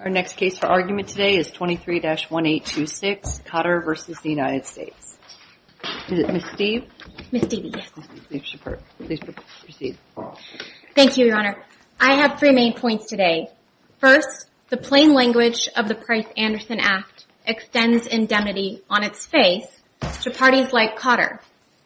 Our next case for argument today is 23-1826, Cotter v. United States. Is it Ms. Steeve? Ms. Steeve, yes. Please proceed. Thank you, Your Honor. I have three main points today. First, the plain language of the Price-Anderson Act extends indemnity on its face to parties like Cotter,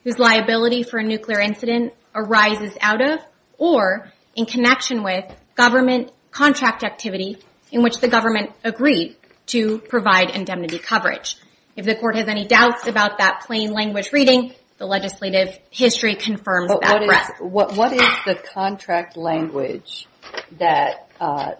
whose liability for a nuclear incident arises out of, or in connection with, government contract activity in which the government agreed to provide indemnity coverage. If the Court has any doubts about that plain language reading, the legislative history confirms that. What is the contract language that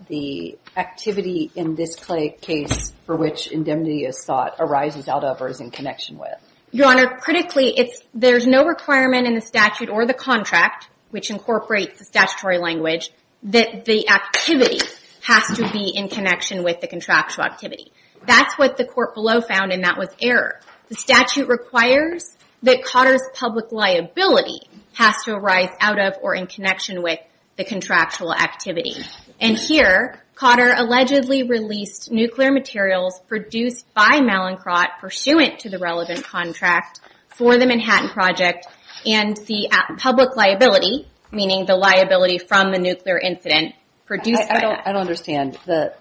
the activity in this case for which indemnity is sought arises out of, or is in connection with? Your Honor, critically, there's no requirement in the statute or the contract, which incorporates the statutory language, that the activity has to be in connection with the contractual activity. That's what the Court below found, and that was error. The statute requires that Cotter's public liability has to arise out of, or in connection with, the contractual activity. And here, Cotter allegedly released nuclear materials produced by Mallinckrodt pursuant to the relevant contract for the Manhattan Project, and the public liability, meaning the liability from the nuclear incident, produced by... I don't understand. The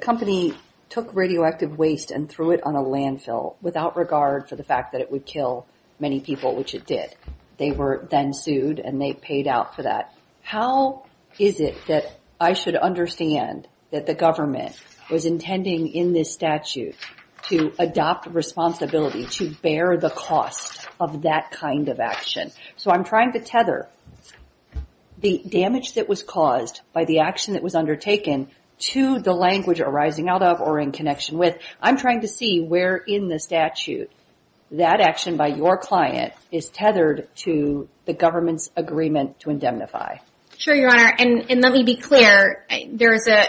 company took radioactive waste and threw it on a landfill, without regard for the fact that it would kill many people, which it did. They were then sued, and they paid out for that. How is it that I should understand that the government was intending in this statute to adopt responsibility to bear the cost of that kind of action? So I'm trying to tether the damage that was caused by the action that was undertaken to the language arising out of, or in connection with. I'm trying to see where in the statute that action by your client is tethered to the government's agreement to indemnify. Sure, Your Honor. And let me be clear, there is a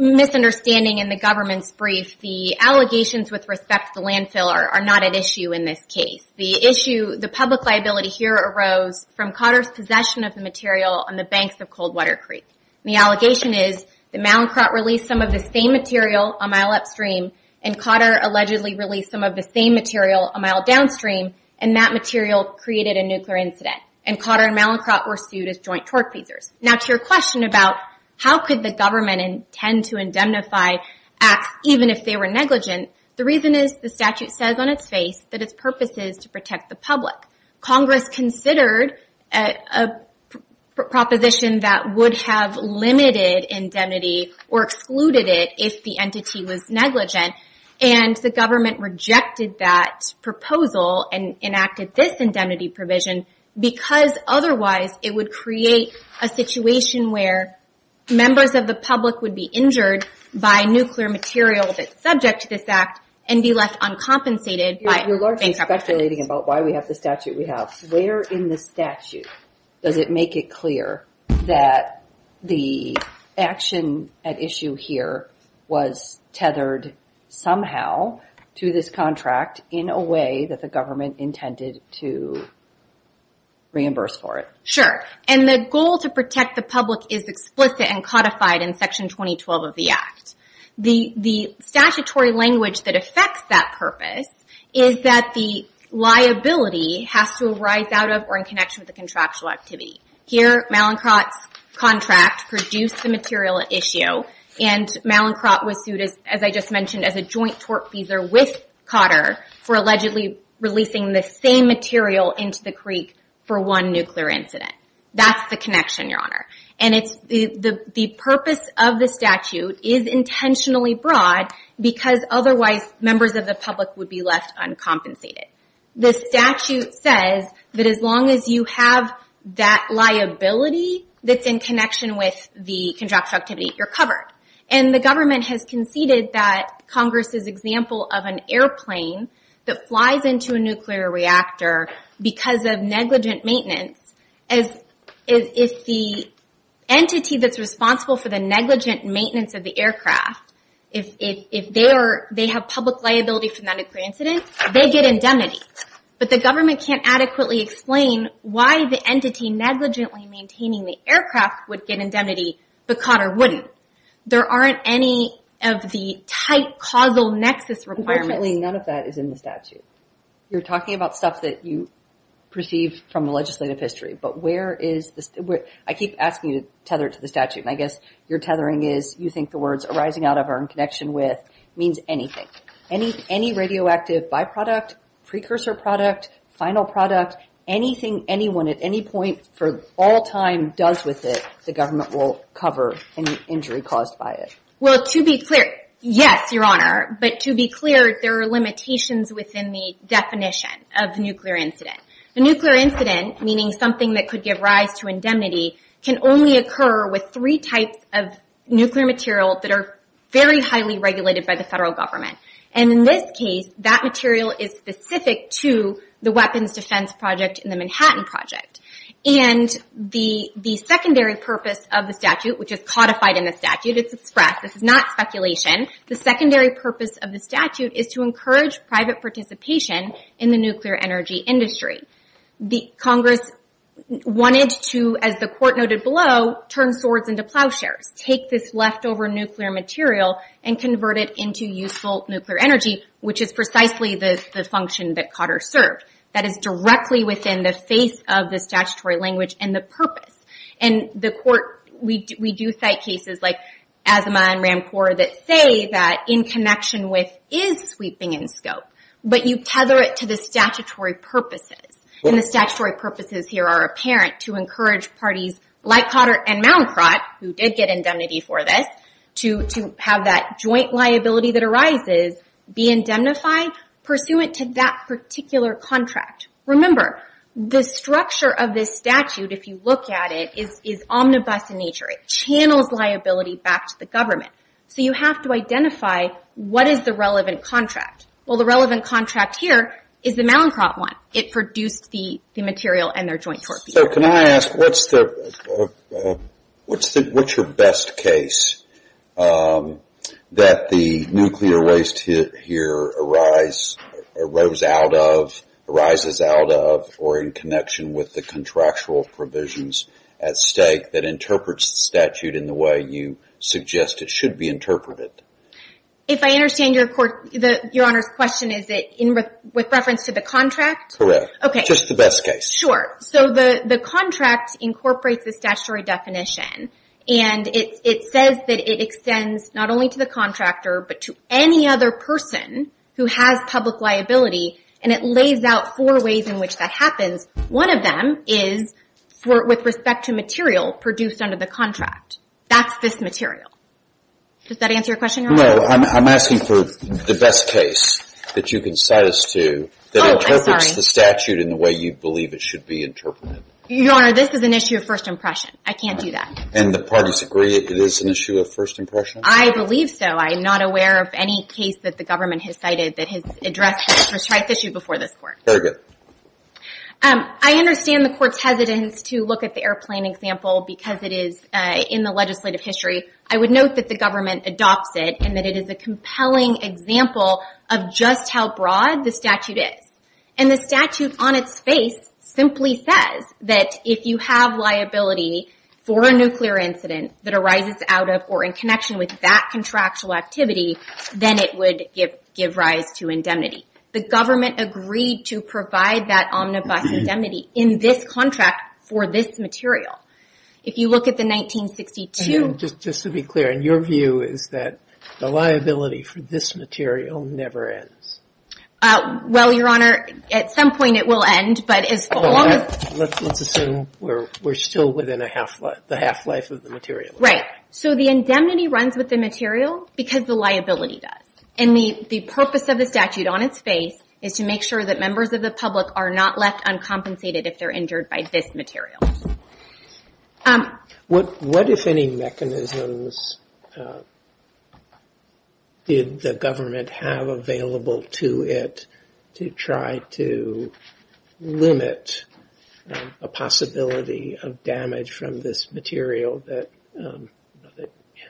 misunderstanding in the government's brief. The allegations with respect to the landfill are not at issue in this case. The issue, the public liability here arose from Cotter's possession of the material on the banks of Coldwater Creek. The allegation is that Mallinckrodt released some of the same material a mile upstream, and Cotter allegedly released some of the same material a mile downstream, and that material created a nuclear incident. And Cotter and Mallinckrodt were sued as joint tortfeasors. Now to your question about how could the government intend to indemnify acts even if they were negligent, the reason is the statute says on its face that its purpose is to protect the public. Congress considered a proposition that would have limited indemnity or excluded it if the entity was negligent, and the government rejected that proposal and enacted this indemnity provision, because otherwise it would create a situation where members of the public would be injured by nuclear material that's subject to this act and be left uncompensated. You're largely speculating about why we have the statute we have. Where in the statute does it make it clear that the action at issue here was tethered somehow to this contract in a way that the government intended to reimburse for it? Sure. And the goal to protect the public is explicit and codified in Section 2012 of the Act. The statutory language that affects that purpose is that the liability has to arise out of or in connection with the contractual activity. Here, Mallinckrodt's contract produced the material at issue, and Mallinckrodt was sued, as I just mentioned, as a joint tortfeasor with Cotter for allegedly releasing the same material into the creek for one nuclear incident. That's the connection, Your Honor. And the purpose of the statute is intentionally broad, because otherwise members of the public would be left uncompensated. The statute says that as long as you have that liability that's in connection with the contractual activity, you're covered. And the government has conceded that Congress' example of an airplane that flies into a nuclear reactor because of negligent maintenance, if the entity that's responsible for the negligent maintenance of the aircraft, if they have public liability for that nuclear incident, they get indemnity. But the government can't adequately explain why the entity negligently maintaining the aircraft would get indemnity, but Cotter wouldn't. There aren't any of the tight causal nexus requirements. Unfortunately, none of that is in the statute. You're talking about stuff that you perceive from the legislative history, but where is the... I keep asking you to tether it to the statute, and I guess your tethering is you think the words arising out of or in connection with means anything. Any radioactive byproduct, precursor product, final product, anything anyone at any point for all time does with it, the government will cover any injury caused by it. Well, to be clear, yes, Your Honor. But to be clear, there are limitations within the definition of nuclear incident. A nuclear incident, meaning something that could give rise to indemnity, can only occur with three types of nuclear material that are very highly regulated by the federal government. And in this case, that material is specific to the weapons defense project and the Manhattan Project. And the secondary purpose of the statute, which is codified in the statute, it's expressed, this is not speculation, the secondary purpose of the statute is to encourage private participation in the nuclear energy industry. Congress wanted to, as the court noted below, turn swords into plowshares, take this leftover nuclear material and convert it into useful nuclear energy, which is precisely the function that Cotter served. That is directly within the face of the statutory language and the purpose. And the court, we do cite cases like Asimov and Rancourt that say that in connection with is sweeping in scope, but you tether it to the statutory purposes. And the statutory purposes here are apparent to encourage parties like Cotter and Moundkraut, who did get indemnity for this, to have that joint liability that arises be indemnified pursuant to that particular contract. Remember, the structure of this statute, if you look at it, is omnibus in nature. It channels liability back to the government. So you have to identify what is the relevant contract. Well, the relevant contract here is the Moundkraut one. It produced the material and their joint torpedoes. So can I ask, what's your best case that the nuclear waste here arose out of, arises out of, or in connection with the contractual provisions at stake that interprets the statute in the way you suggest it should be interpreted? If I understand your Honor's question, is it with reference to the contract? Correct. Just the best case. Sure. So the contract incorporates the statutory definition. And it says that it extends not only to the contractor, but to any other person who has public liability. And it lays out four ways in which that happens. One of them is with respect to material produced under the contract. That's this material. Does that answer your question, Your Honor? No. I'm asking for the best case that you can cite us to that interprets the statute in the way you believe it should be interpreted. Your Honor, this is an issue of first impression. I can't do that. And the parties agree it is an issue of first impression? I believe so. I am not aware of any case that the government has cited that has addressed this issue before this Court. Very good. I understand the Court's hesitance to look at the airplane example because it is in the legislative history. I would note that the government adopts it and that it is a compelling example of just how broad the statute is. And the statute on its face simply says that if you have liability for a nuclear incident that arises out of or in connection with that contractual activity, then it would give rise to indemnity. The government agreed to provide that omnibus indemnity in this contract for this material. If you look at the 1962... Just to be clear, your view is that the liability for this material never ends? Well, Your Honor, at some point it will end, but as long as... Let's assume we're still within the half-life of the material. Right. So the indemnity runs with the material because the liability does. And the purpose of the statute on its face is to make sure that members of the public are not left uncompensated if they're injured by this material. What, if any, mechanisms did the government have available to it to try to limit a possibility of damage from this material that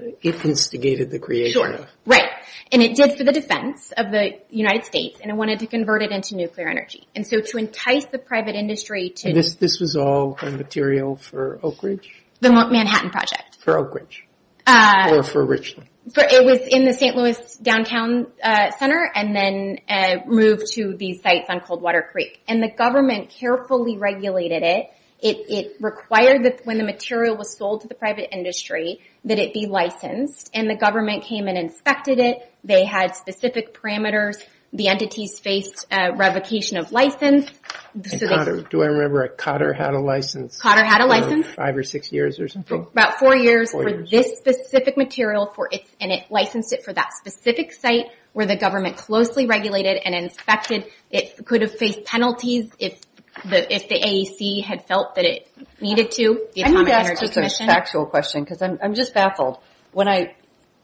it instigated the creation of? Sure. Right. And it did for the defense of the United States, and it wanted to convert it into nuclear energy. And so to entice the private industry to... And this was all the material for Oak Ridge? The Manhattan Project. For Oak Ridge. Or for Richland. It was in the St. Louis downtown center and then moved to these sites on Coldwater Creek. And the government carefully regulated it. It required that when the material was sold to the private industry, that it be licensed. And the government came and inspected it. They had specific parameters. The entities faced revocation of license. And Cotter, do I remember, Cotter had a license? Cotter had a license. Five or six years or something? About four years for this specific material and it licensed it for that specific site where the government closely regulated and inspected. It could have faced penalties if the AEC had felt that it needed to, the Atomic Energy Commission. I need to ask just a factual question because I'm just baffled. When I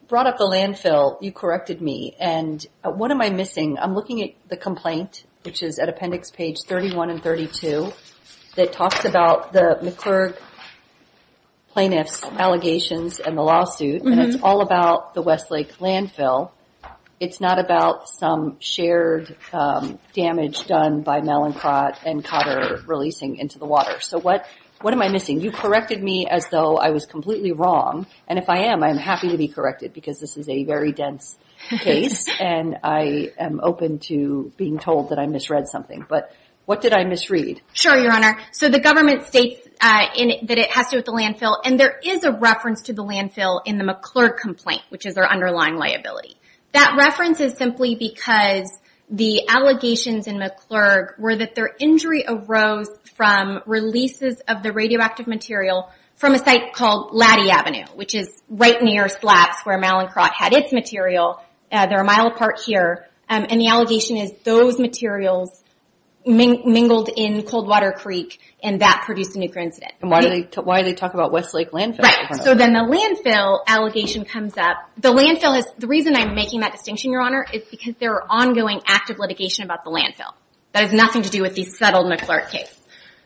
brought up the landfill, you corrected me. And what am I missing? I'm looking at the complaint, which is at appendix page 31 and 32, that talks about the McClurg plaintiffs' allegations and the lawsuit. And it's all about the Westlake landfill. It's not about some shared damage done by Mallinckrodt and Cotter releasing into the water. So what am I missing? You corrected me as though I was completely wrong. And if I am, I'm happy to be corrected because this is a very dense case. And I am open to being told that I misread something. But what did I misread? Sure, Your Honor. So the government states that it has to do with the landfill. And there is a reference to the landfill in the McClurg complaint, which is their underlying liability. That reference is simply because the allegations in McClurg were that their injury arose from releases of the radioactive material from a site called Laddy Avenue, which is right near SLAPS where Mallinckrodt had its material. They're a mile apart here. And the allegation is those materials mingled in Coldwater Creek and that produced a nuclear incident. And why do they talk about Westlake Landfill? Right. So then the landfill allegation comes up. The reason I'm making that distinction, is because there are ongoing active litigation about the landfill. That has nothing to do with the settled McClurg case.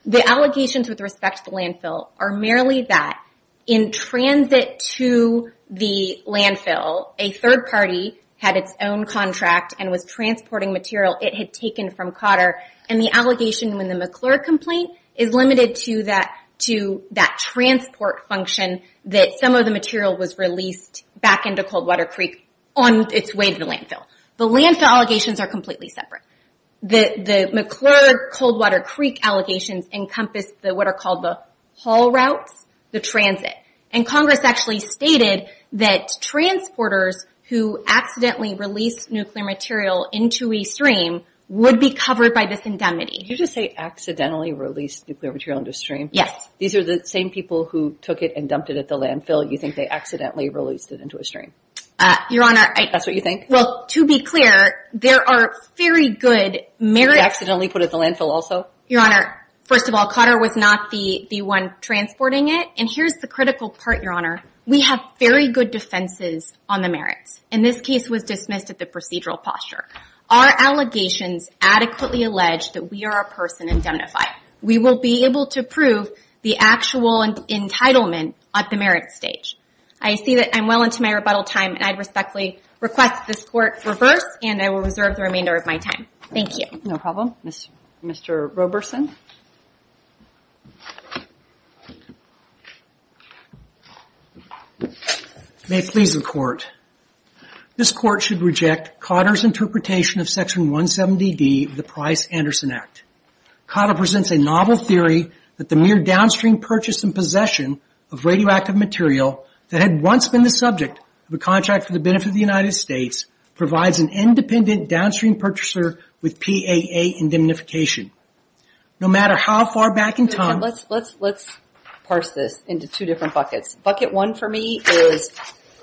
The allegations with respect to the landfill are merely that in transit to the landfill, a third party had its own contract and was transporting material it had taken from Cotter. And the allegation in the McClurg complaint is limited to that transport function that some of the material was released back into Coldwater Creek on its way to the landfill. The landfill allegations are completely separate. The McClurg Coldwater Creek allegations encompass what are called the haul routes, the transit. And Congress actually stated that transporters who accidentally released nuclear material into a stream would be covered by this indemnity. Did you just say accidentally released nuclear material into a stream? Yes. These are the same people who took it and dumped it at the landfill. You think they accidentally released it into a stream? Your Honor. That's what you think? Well, to be clear, there are very good merits. You accidentally put it at the landfill also? Your Honor, first of all, Cotter was not the one transporting it. And here's the critical part, Your Honor. We have very good defenses on the merits. And this case was dismissed at the procedural posture. Our allegations adequately allege that we are a person indemnified. We will be able to prove the actual entitlement at the merits stage. I see that I'm well into my rebuttal time and I respectfully request this Court reverse and I will reserve the remainder of my time. Thank you. No problem. Mr. Roberson. May it please the Court. This Court should reject Cotter's interpretation of Section 170D of the Price-Anderson Act. Cotter presents a novel theory that the mere downstream purchase and possession of radioactive material that had once been the subject of a contract for the benefit of the United States provides an independent downstream purchaser with PAA indemnification. No matter how far back in time... Let's parse this into two different buckets. Bucket one for me is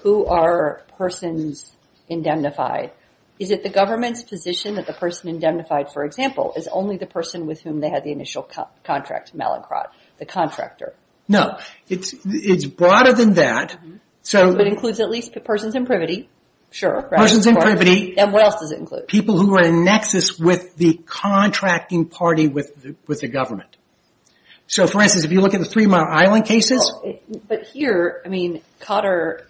who are persons indemnified? Is it the government's position that the person indemnified for example, is only the person with whom they had the initial contract, Mallinckrodt, the contractor? It's broader than that. It includes at least persons in privity. Persons in privity. What else does it include? People who are in nexus with the contracting party with the government. For instance, if you look at the Three Mile Island cases... But here, I mean, Cotter...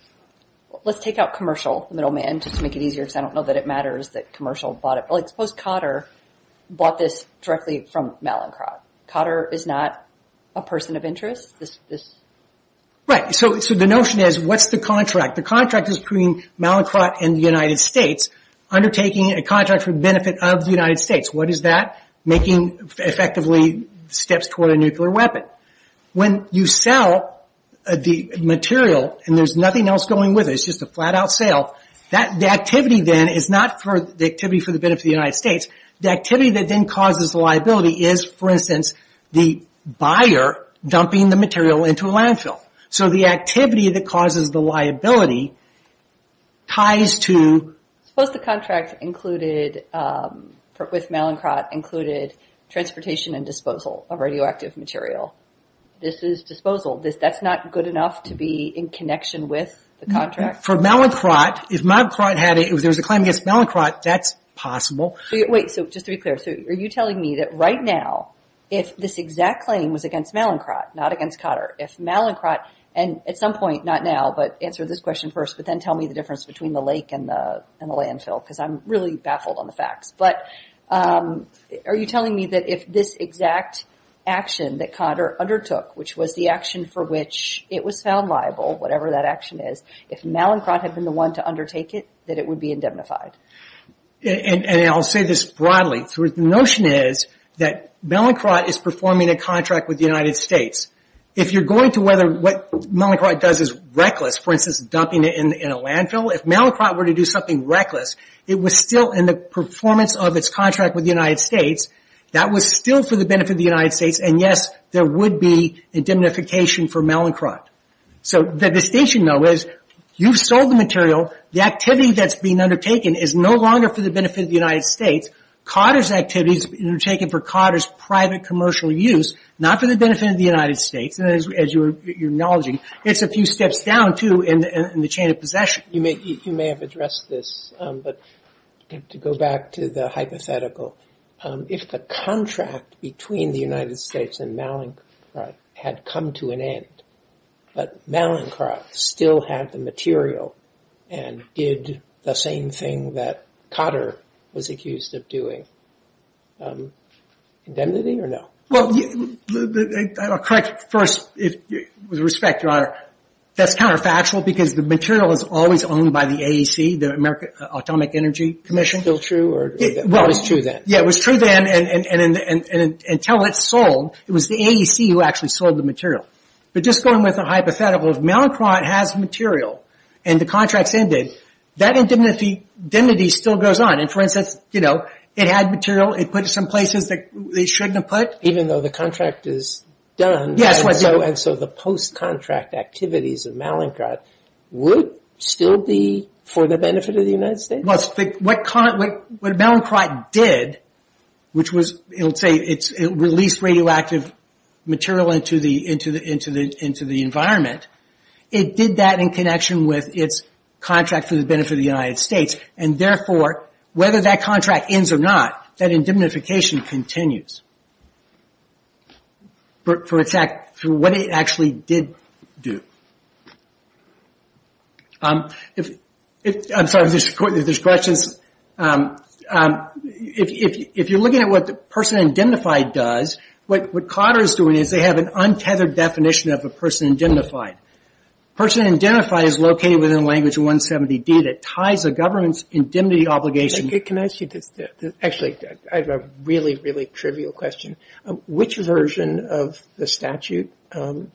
Let's take out commercial middleman just to make it easier because I don't know that it matters that commercial bought it. Suppose Cotter bought this directly from Mallinckrodt. Cotter is not a person of interest? Right. The notion is what's the contract? The contract is between Mallinckrodt and the United States undertaking a contract for the benefit of the United States. What is that? Making, effectively, steps toward a nuclear weapon. When you sell the material, and there's nothing else going with it, it's just a flat out sale, the activity then is not for the activity for the benefit of the United States. The activity that then causes the liability is, for instance, the buyer dumping the material into a landfill. So, the activity that causes the liability ties to... Suppose the contract included, with Mallinckrodt, included transportation and disposal of radioactive material. This is disposal. That's not good enough to be in connection with the contract? For Mallinckrodt, if Mallinckrodt had a... If there was a claim against Mallinckrodt, that's possible. Wait. So, just to be clear, are you telling me that right now, if this exact claim was against Mallinckrodt, not against Cotter, if Mallinckrodt, and at some point, not now, but answer this question first, but then tell me the difference between the lake and the landfill, because I'm really baffled on the facts, but are you telling me that if this exact action that Cotter undertook, which was the action for which it was found liable, whatever that action is, if Mallinckrodt had been the one to undertake it, that it would be indemnified? And I'll say this broadly. The notion is that Mallinckrodt is performing a contract with the United States. If you're going to whether what Mallinckrodt does is reckless, for instance, dumping it in a landfill, if Mallinckrodt were to do something reckless, it was still in the performance of its contract with the United States. That was still for the benefit of the United States, and yes, there would be indemnification for Mallinckrodt. So, the distinction, though, is you've sold the material. The activity that's being undertaken is no longer for the benefit of the United States. Cotter's activity is being undertaken for Cotter's private commercial use, not for the benefit of the United States. And as you're acknowledging, it's a few steps down, too, in the chain of possession. You may have addressed this, but to go back to the hypothetical, if the contract between the United States and Mallinckrodt had come to an end, but Mallinckrodt still had the material and did the same thing that Cotter was accused of doing, indemnity or no? Well, correct first, with respect, Your Honor, that's counterfactual because the material is always owned by the AEC, the Atomic Energy Commission. Still true, or it was true then? Yeah, it was true then, and until it sold, it was the AEC who actually sold the material. But just going with the hypothetical, if Mallinckrodt has material and the contract's ended, that indemnity still goes on. And for instance, it had material, it put it in some places that it shouldn't have put. Even though the contract is done, and so the post-contract activities of Mallinckrodt would still be for the benefit of the United States? What Mallinckrodt did, which was, it released radioactive material into the environment, it did that in connection with its contract for the benefit of the United States. And therefore, whether that contract ends or not, that indemnification continues through what it actually did do. I'm sorry if there's questions. If you're looking at what the person indemnified does, what Carter's doing is they have an untethered definition of a person indemnified. A person indemnified is located within a language of 170D that ties a government's indemnity obligation... Can I ask you this? Actually, I have a really, really trivial question. Which version of the statute governs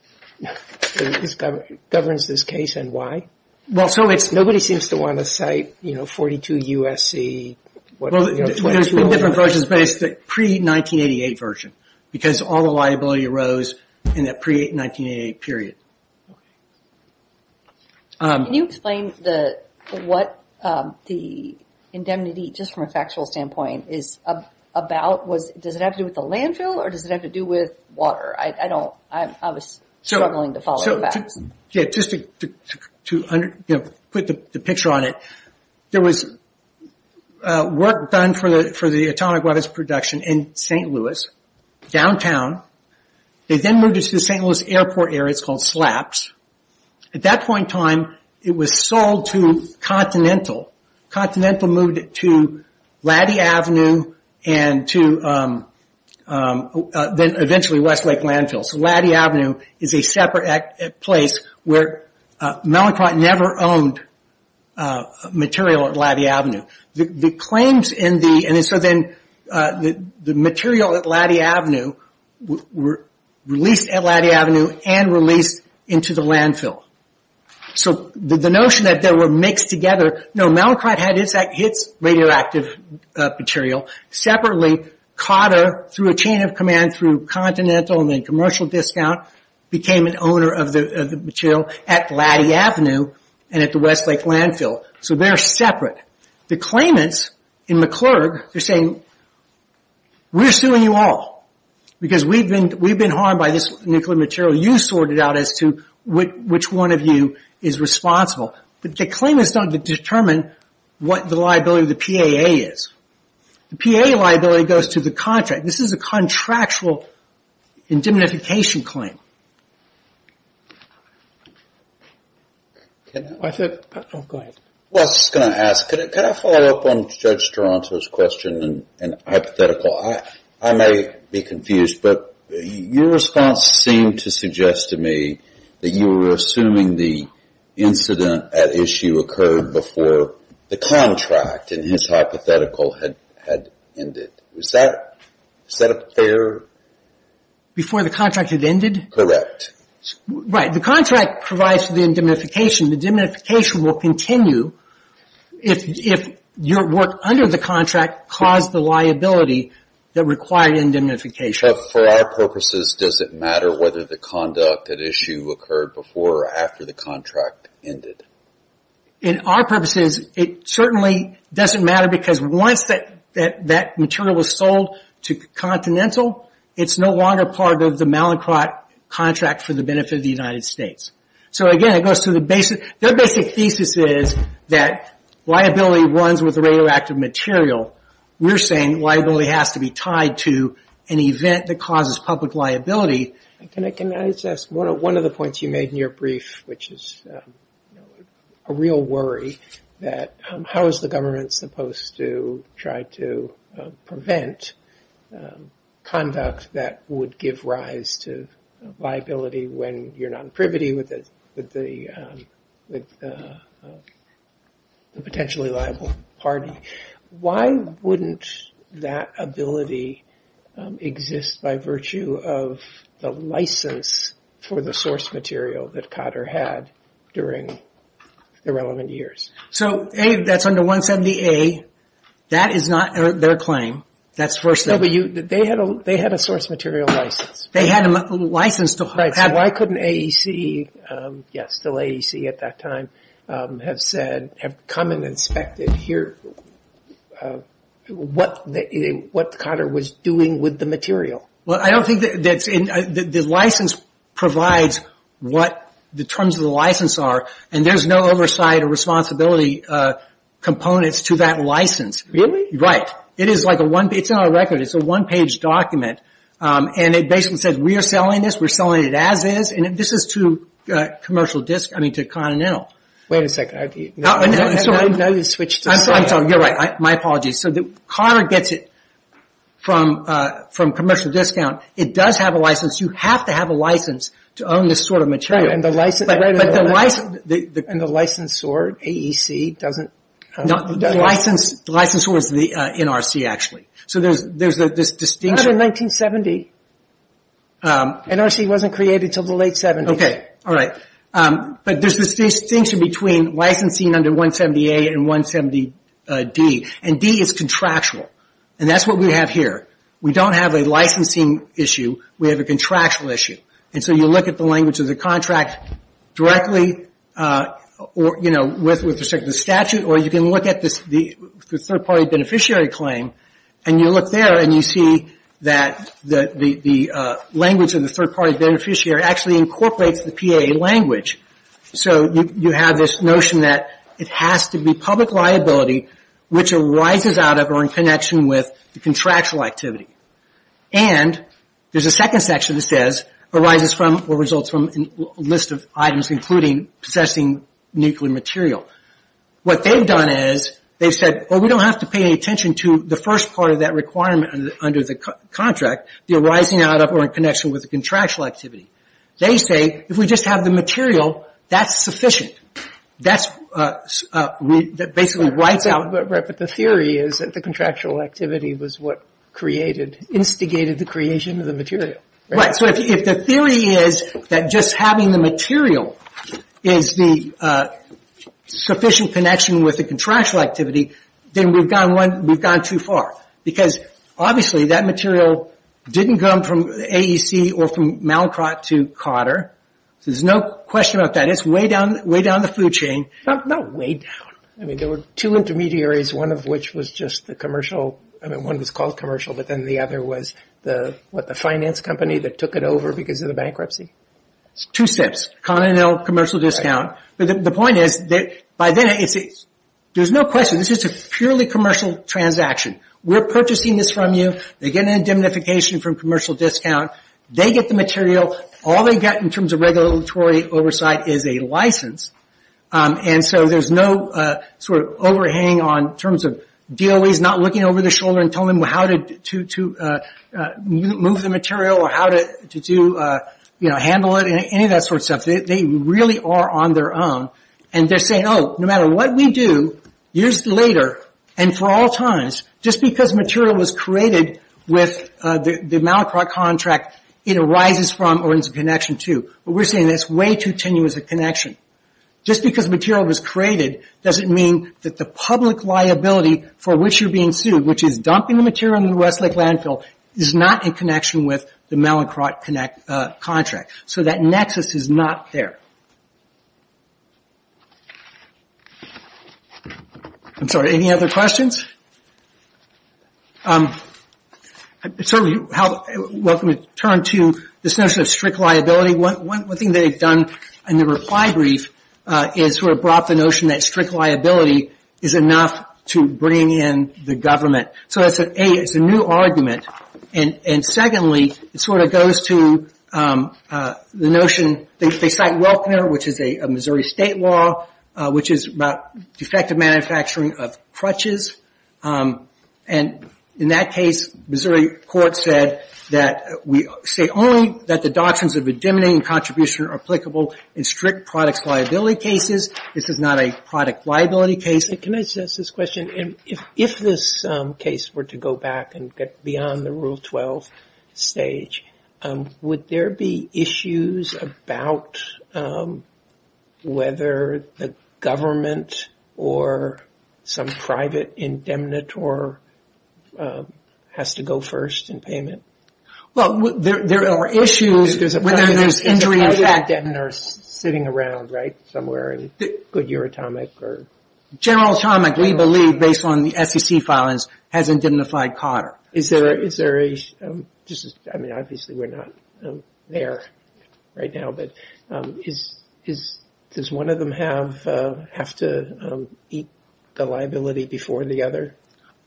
this case and why? Well, so it's, nobody seems to want to cite 42 U.S.C. There's been different versions, but it's the pre-1988 version, because all the liability arose in that pre-1988 period. Okay. Can you explain what the indemnity, just from a factual standpoint, is about? Does it have to do with the landfill or does it have to do with water? I don't, I was struggling to follow the facts. Just to put the picture on it, there was work done for the atomic weapons production in St. Louis, downtown. They then moved it to the St. Louis airport area. It's called SLAPS. At that point in time, it was sold to Continental. Continental moved it to Laddy Avenue and to then eventually Westlake Landfill. So Laddy Avenue is a separate place where Mallinckrodt never owned material at Laddy Avenue. The claims in the, and so then the material at Laddy Avenue were released at Laddy Avenue and released into the landfill. So the notion that they were mixed together, no, Mallinckrodt had its radioactive material separately. through a chain of command through Continental and then commercial discount, became an owner of the material at Laddy Avenue and at the Westlake Landfill. So they're separate. The claimants in McClurg, they're saying, we're suing you all because we've been harmed by this nuclear material. You sort it out as to which one of you is responsible. The claimants don't determine what the liability of the PAA is. The PAA liability goes to the contract. This is a contractual indemnification claim. Can I follow up on Judge Toronto's question and hypothetical. I may be but you seem to suggest to me that you were assuming the incident at issue occurred before the contract in his hypothetical had ended. Is that a fair Before the contract had Right. The contract provides the indemnification. The indemnification will continue if your work under the caused the liability that required indemnification. For our purposes does it matter whether the conduct at issue occurred before or after the ended? In our purposes it certainly doesn't matter because once that material was sold to Continental it's no longer part of the Malacroft contract for the benefit of the United States. Their basic thesis is that liability runs with and has to be tied to an event that causes public liability. Can I ask one of the points you made in your brief which is a real worry that how is the government supposed to try to conduct that would give rise to liability when you're not privity with the potentially liable party. Why wouldn't that ability exist by virtue of the license for the source material that Cotter had during the relevant years? That's under 170A. That is not their claim. They had a source material license. They had a license to have that. Why couldn't AEC at that time have said have come and inspected here what Cotter was doing with the material? I don't think the license provides what the terms of the license are and there's no oversight or components to that license. Really? Right. It's not a record. It's a one-page document. It basically says we're selling this. We're selling it as is. This is to Continental. Wait a second. You're right. My apologies. Cotter gets it from commercial discount. It does have a You have to have a license to own this sort of material. The license sword, AEC, doesn't have a The license sword is the NRC actually. Not in 1970. NRC wasn't created until the late 70s. There's a distinction between licensing under 170A and 170D. D is contractual. That's what we have here. We don't have a licensing issue. We have a contractual issue. You look at the language of the contract directly with respect to the or you can look at the third party beneficiary claim and you look there and you see that the language of the third party beneficiary actually incorporates the PAA language. So you have this notion that it has to be public liability which arises out of or in connection with the contractual activity. They say if we just have the material that's sufficient. basically writes out the theory that the contractual activity was what instigated the creation of the If the theory is that just having the material is the sufficient connection with the contractual activity then we've gone too far. Because obviously that material didn't come from AEC or from Malcrot to Cotter. There's no question about that. It's way down the food chain. Not way down. There were two intermediaries one of which was just the one was called commercial but the other was the finance company that took it over because of There's no question this is a purely commercial transaction. We're purchasing this from you. They're getting a diminification from commercial discount. They get the All they get in terms of regulatory oversight is a license. There's no overhang in terms of DOE's not looking over the and telling them how to move the material or how to handle it. Any of that sort of stuff. They really are on their own. They're saying no matter what we do years later and for all times just because material was created with the contract it arises from a connection too. We're saying it's way too tenuous a Just because material was created doesn't mean the public liability for which you're being sued which is dumping the material into the landfill is not in connection with the contract. So that nexus is not there. I'm sorry any other questions? Welcome to turn to this notion of strict liability. One thing they've done in the reply brief is brought the notion that strict liability is enough to bring in the government. So it's a new argument. And secondly it sort of goes to the notion they cite Welkner which is a Missouri state law which is about defective manufacturing of crutches and in that case Missouri court said that we say only that the doctrines are applicable in strict products and this is not a product liability case. Can I ask this question? If this case were to go back and get beyond the rule 12 stage would there be issues about whether the government or some private indemnitor has to go first in payment? There are issues whether there's injury or sitting around right somewhere. General Atomic we believe based on the SEC file hasn't indemnified Cotter. Is there a just obviously we're not there right now but does one of them have to eat the liability before the other?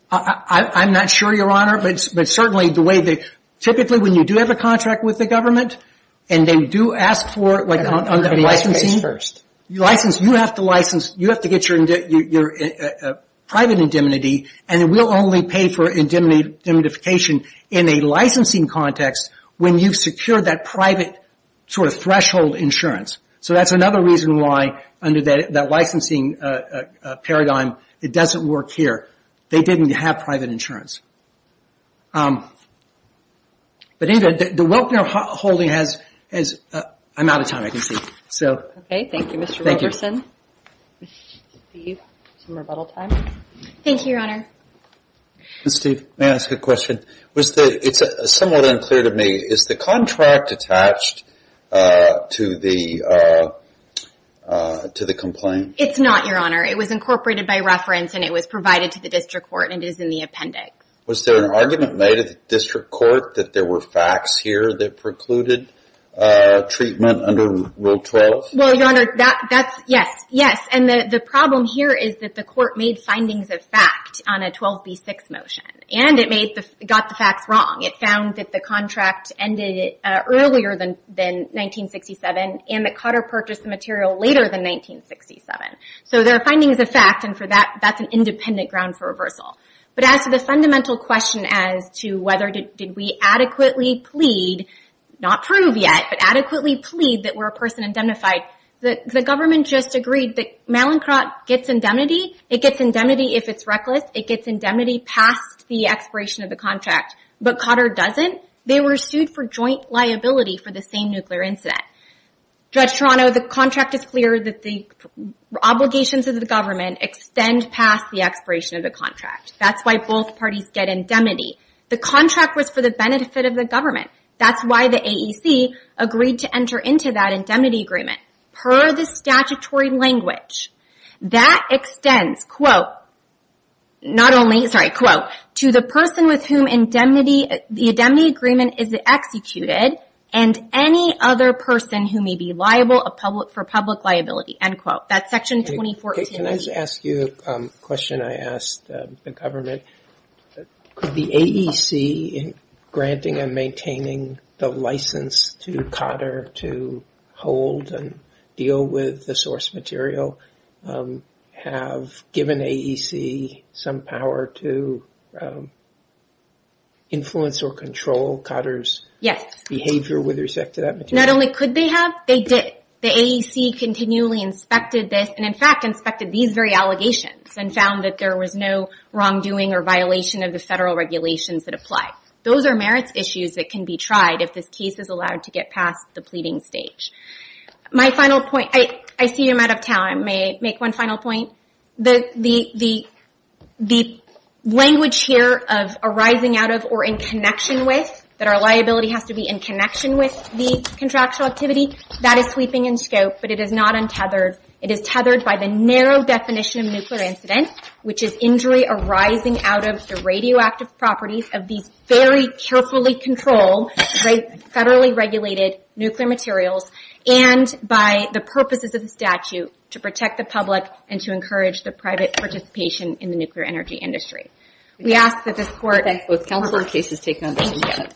I'm not sure your but certainly typically when you do have a contract with the and they do ask for licensing you have to license you have to get your private indemnity and we'll only pay for indemnification in a licensing context when you secure that private threshold insurance. That's another reason why under that licensing paradigm it doesn't work here. They didn't have private insurance. The Welkner holding I'm out of time I can see. Thank you Mr. Welkner. It's somewhat unclear to me is the contract attached to the complaint? It's not your honor. It was incorporated by reference and it was provided to the court and is in the appendix. Was there an argument made at the district court that there is no reason that there is no reason that there is no reason that there is no reason that there as to that this was made applicable to the court to the court of ίν opinion for of of the I no reason that there is court of the defense court of the defense defense of the defense of the defense of The This this this definition of nuclear incident, which is injury arising out of the radioactive properties of these very carefully controlled, federally regulated nuclear materials, and by the purposes of the statute to protect the public and to encourage the private participation in the nuclear energy industry. We ask that this Court... Thank you. Both counsel and the case is taken on the same day. Thank you.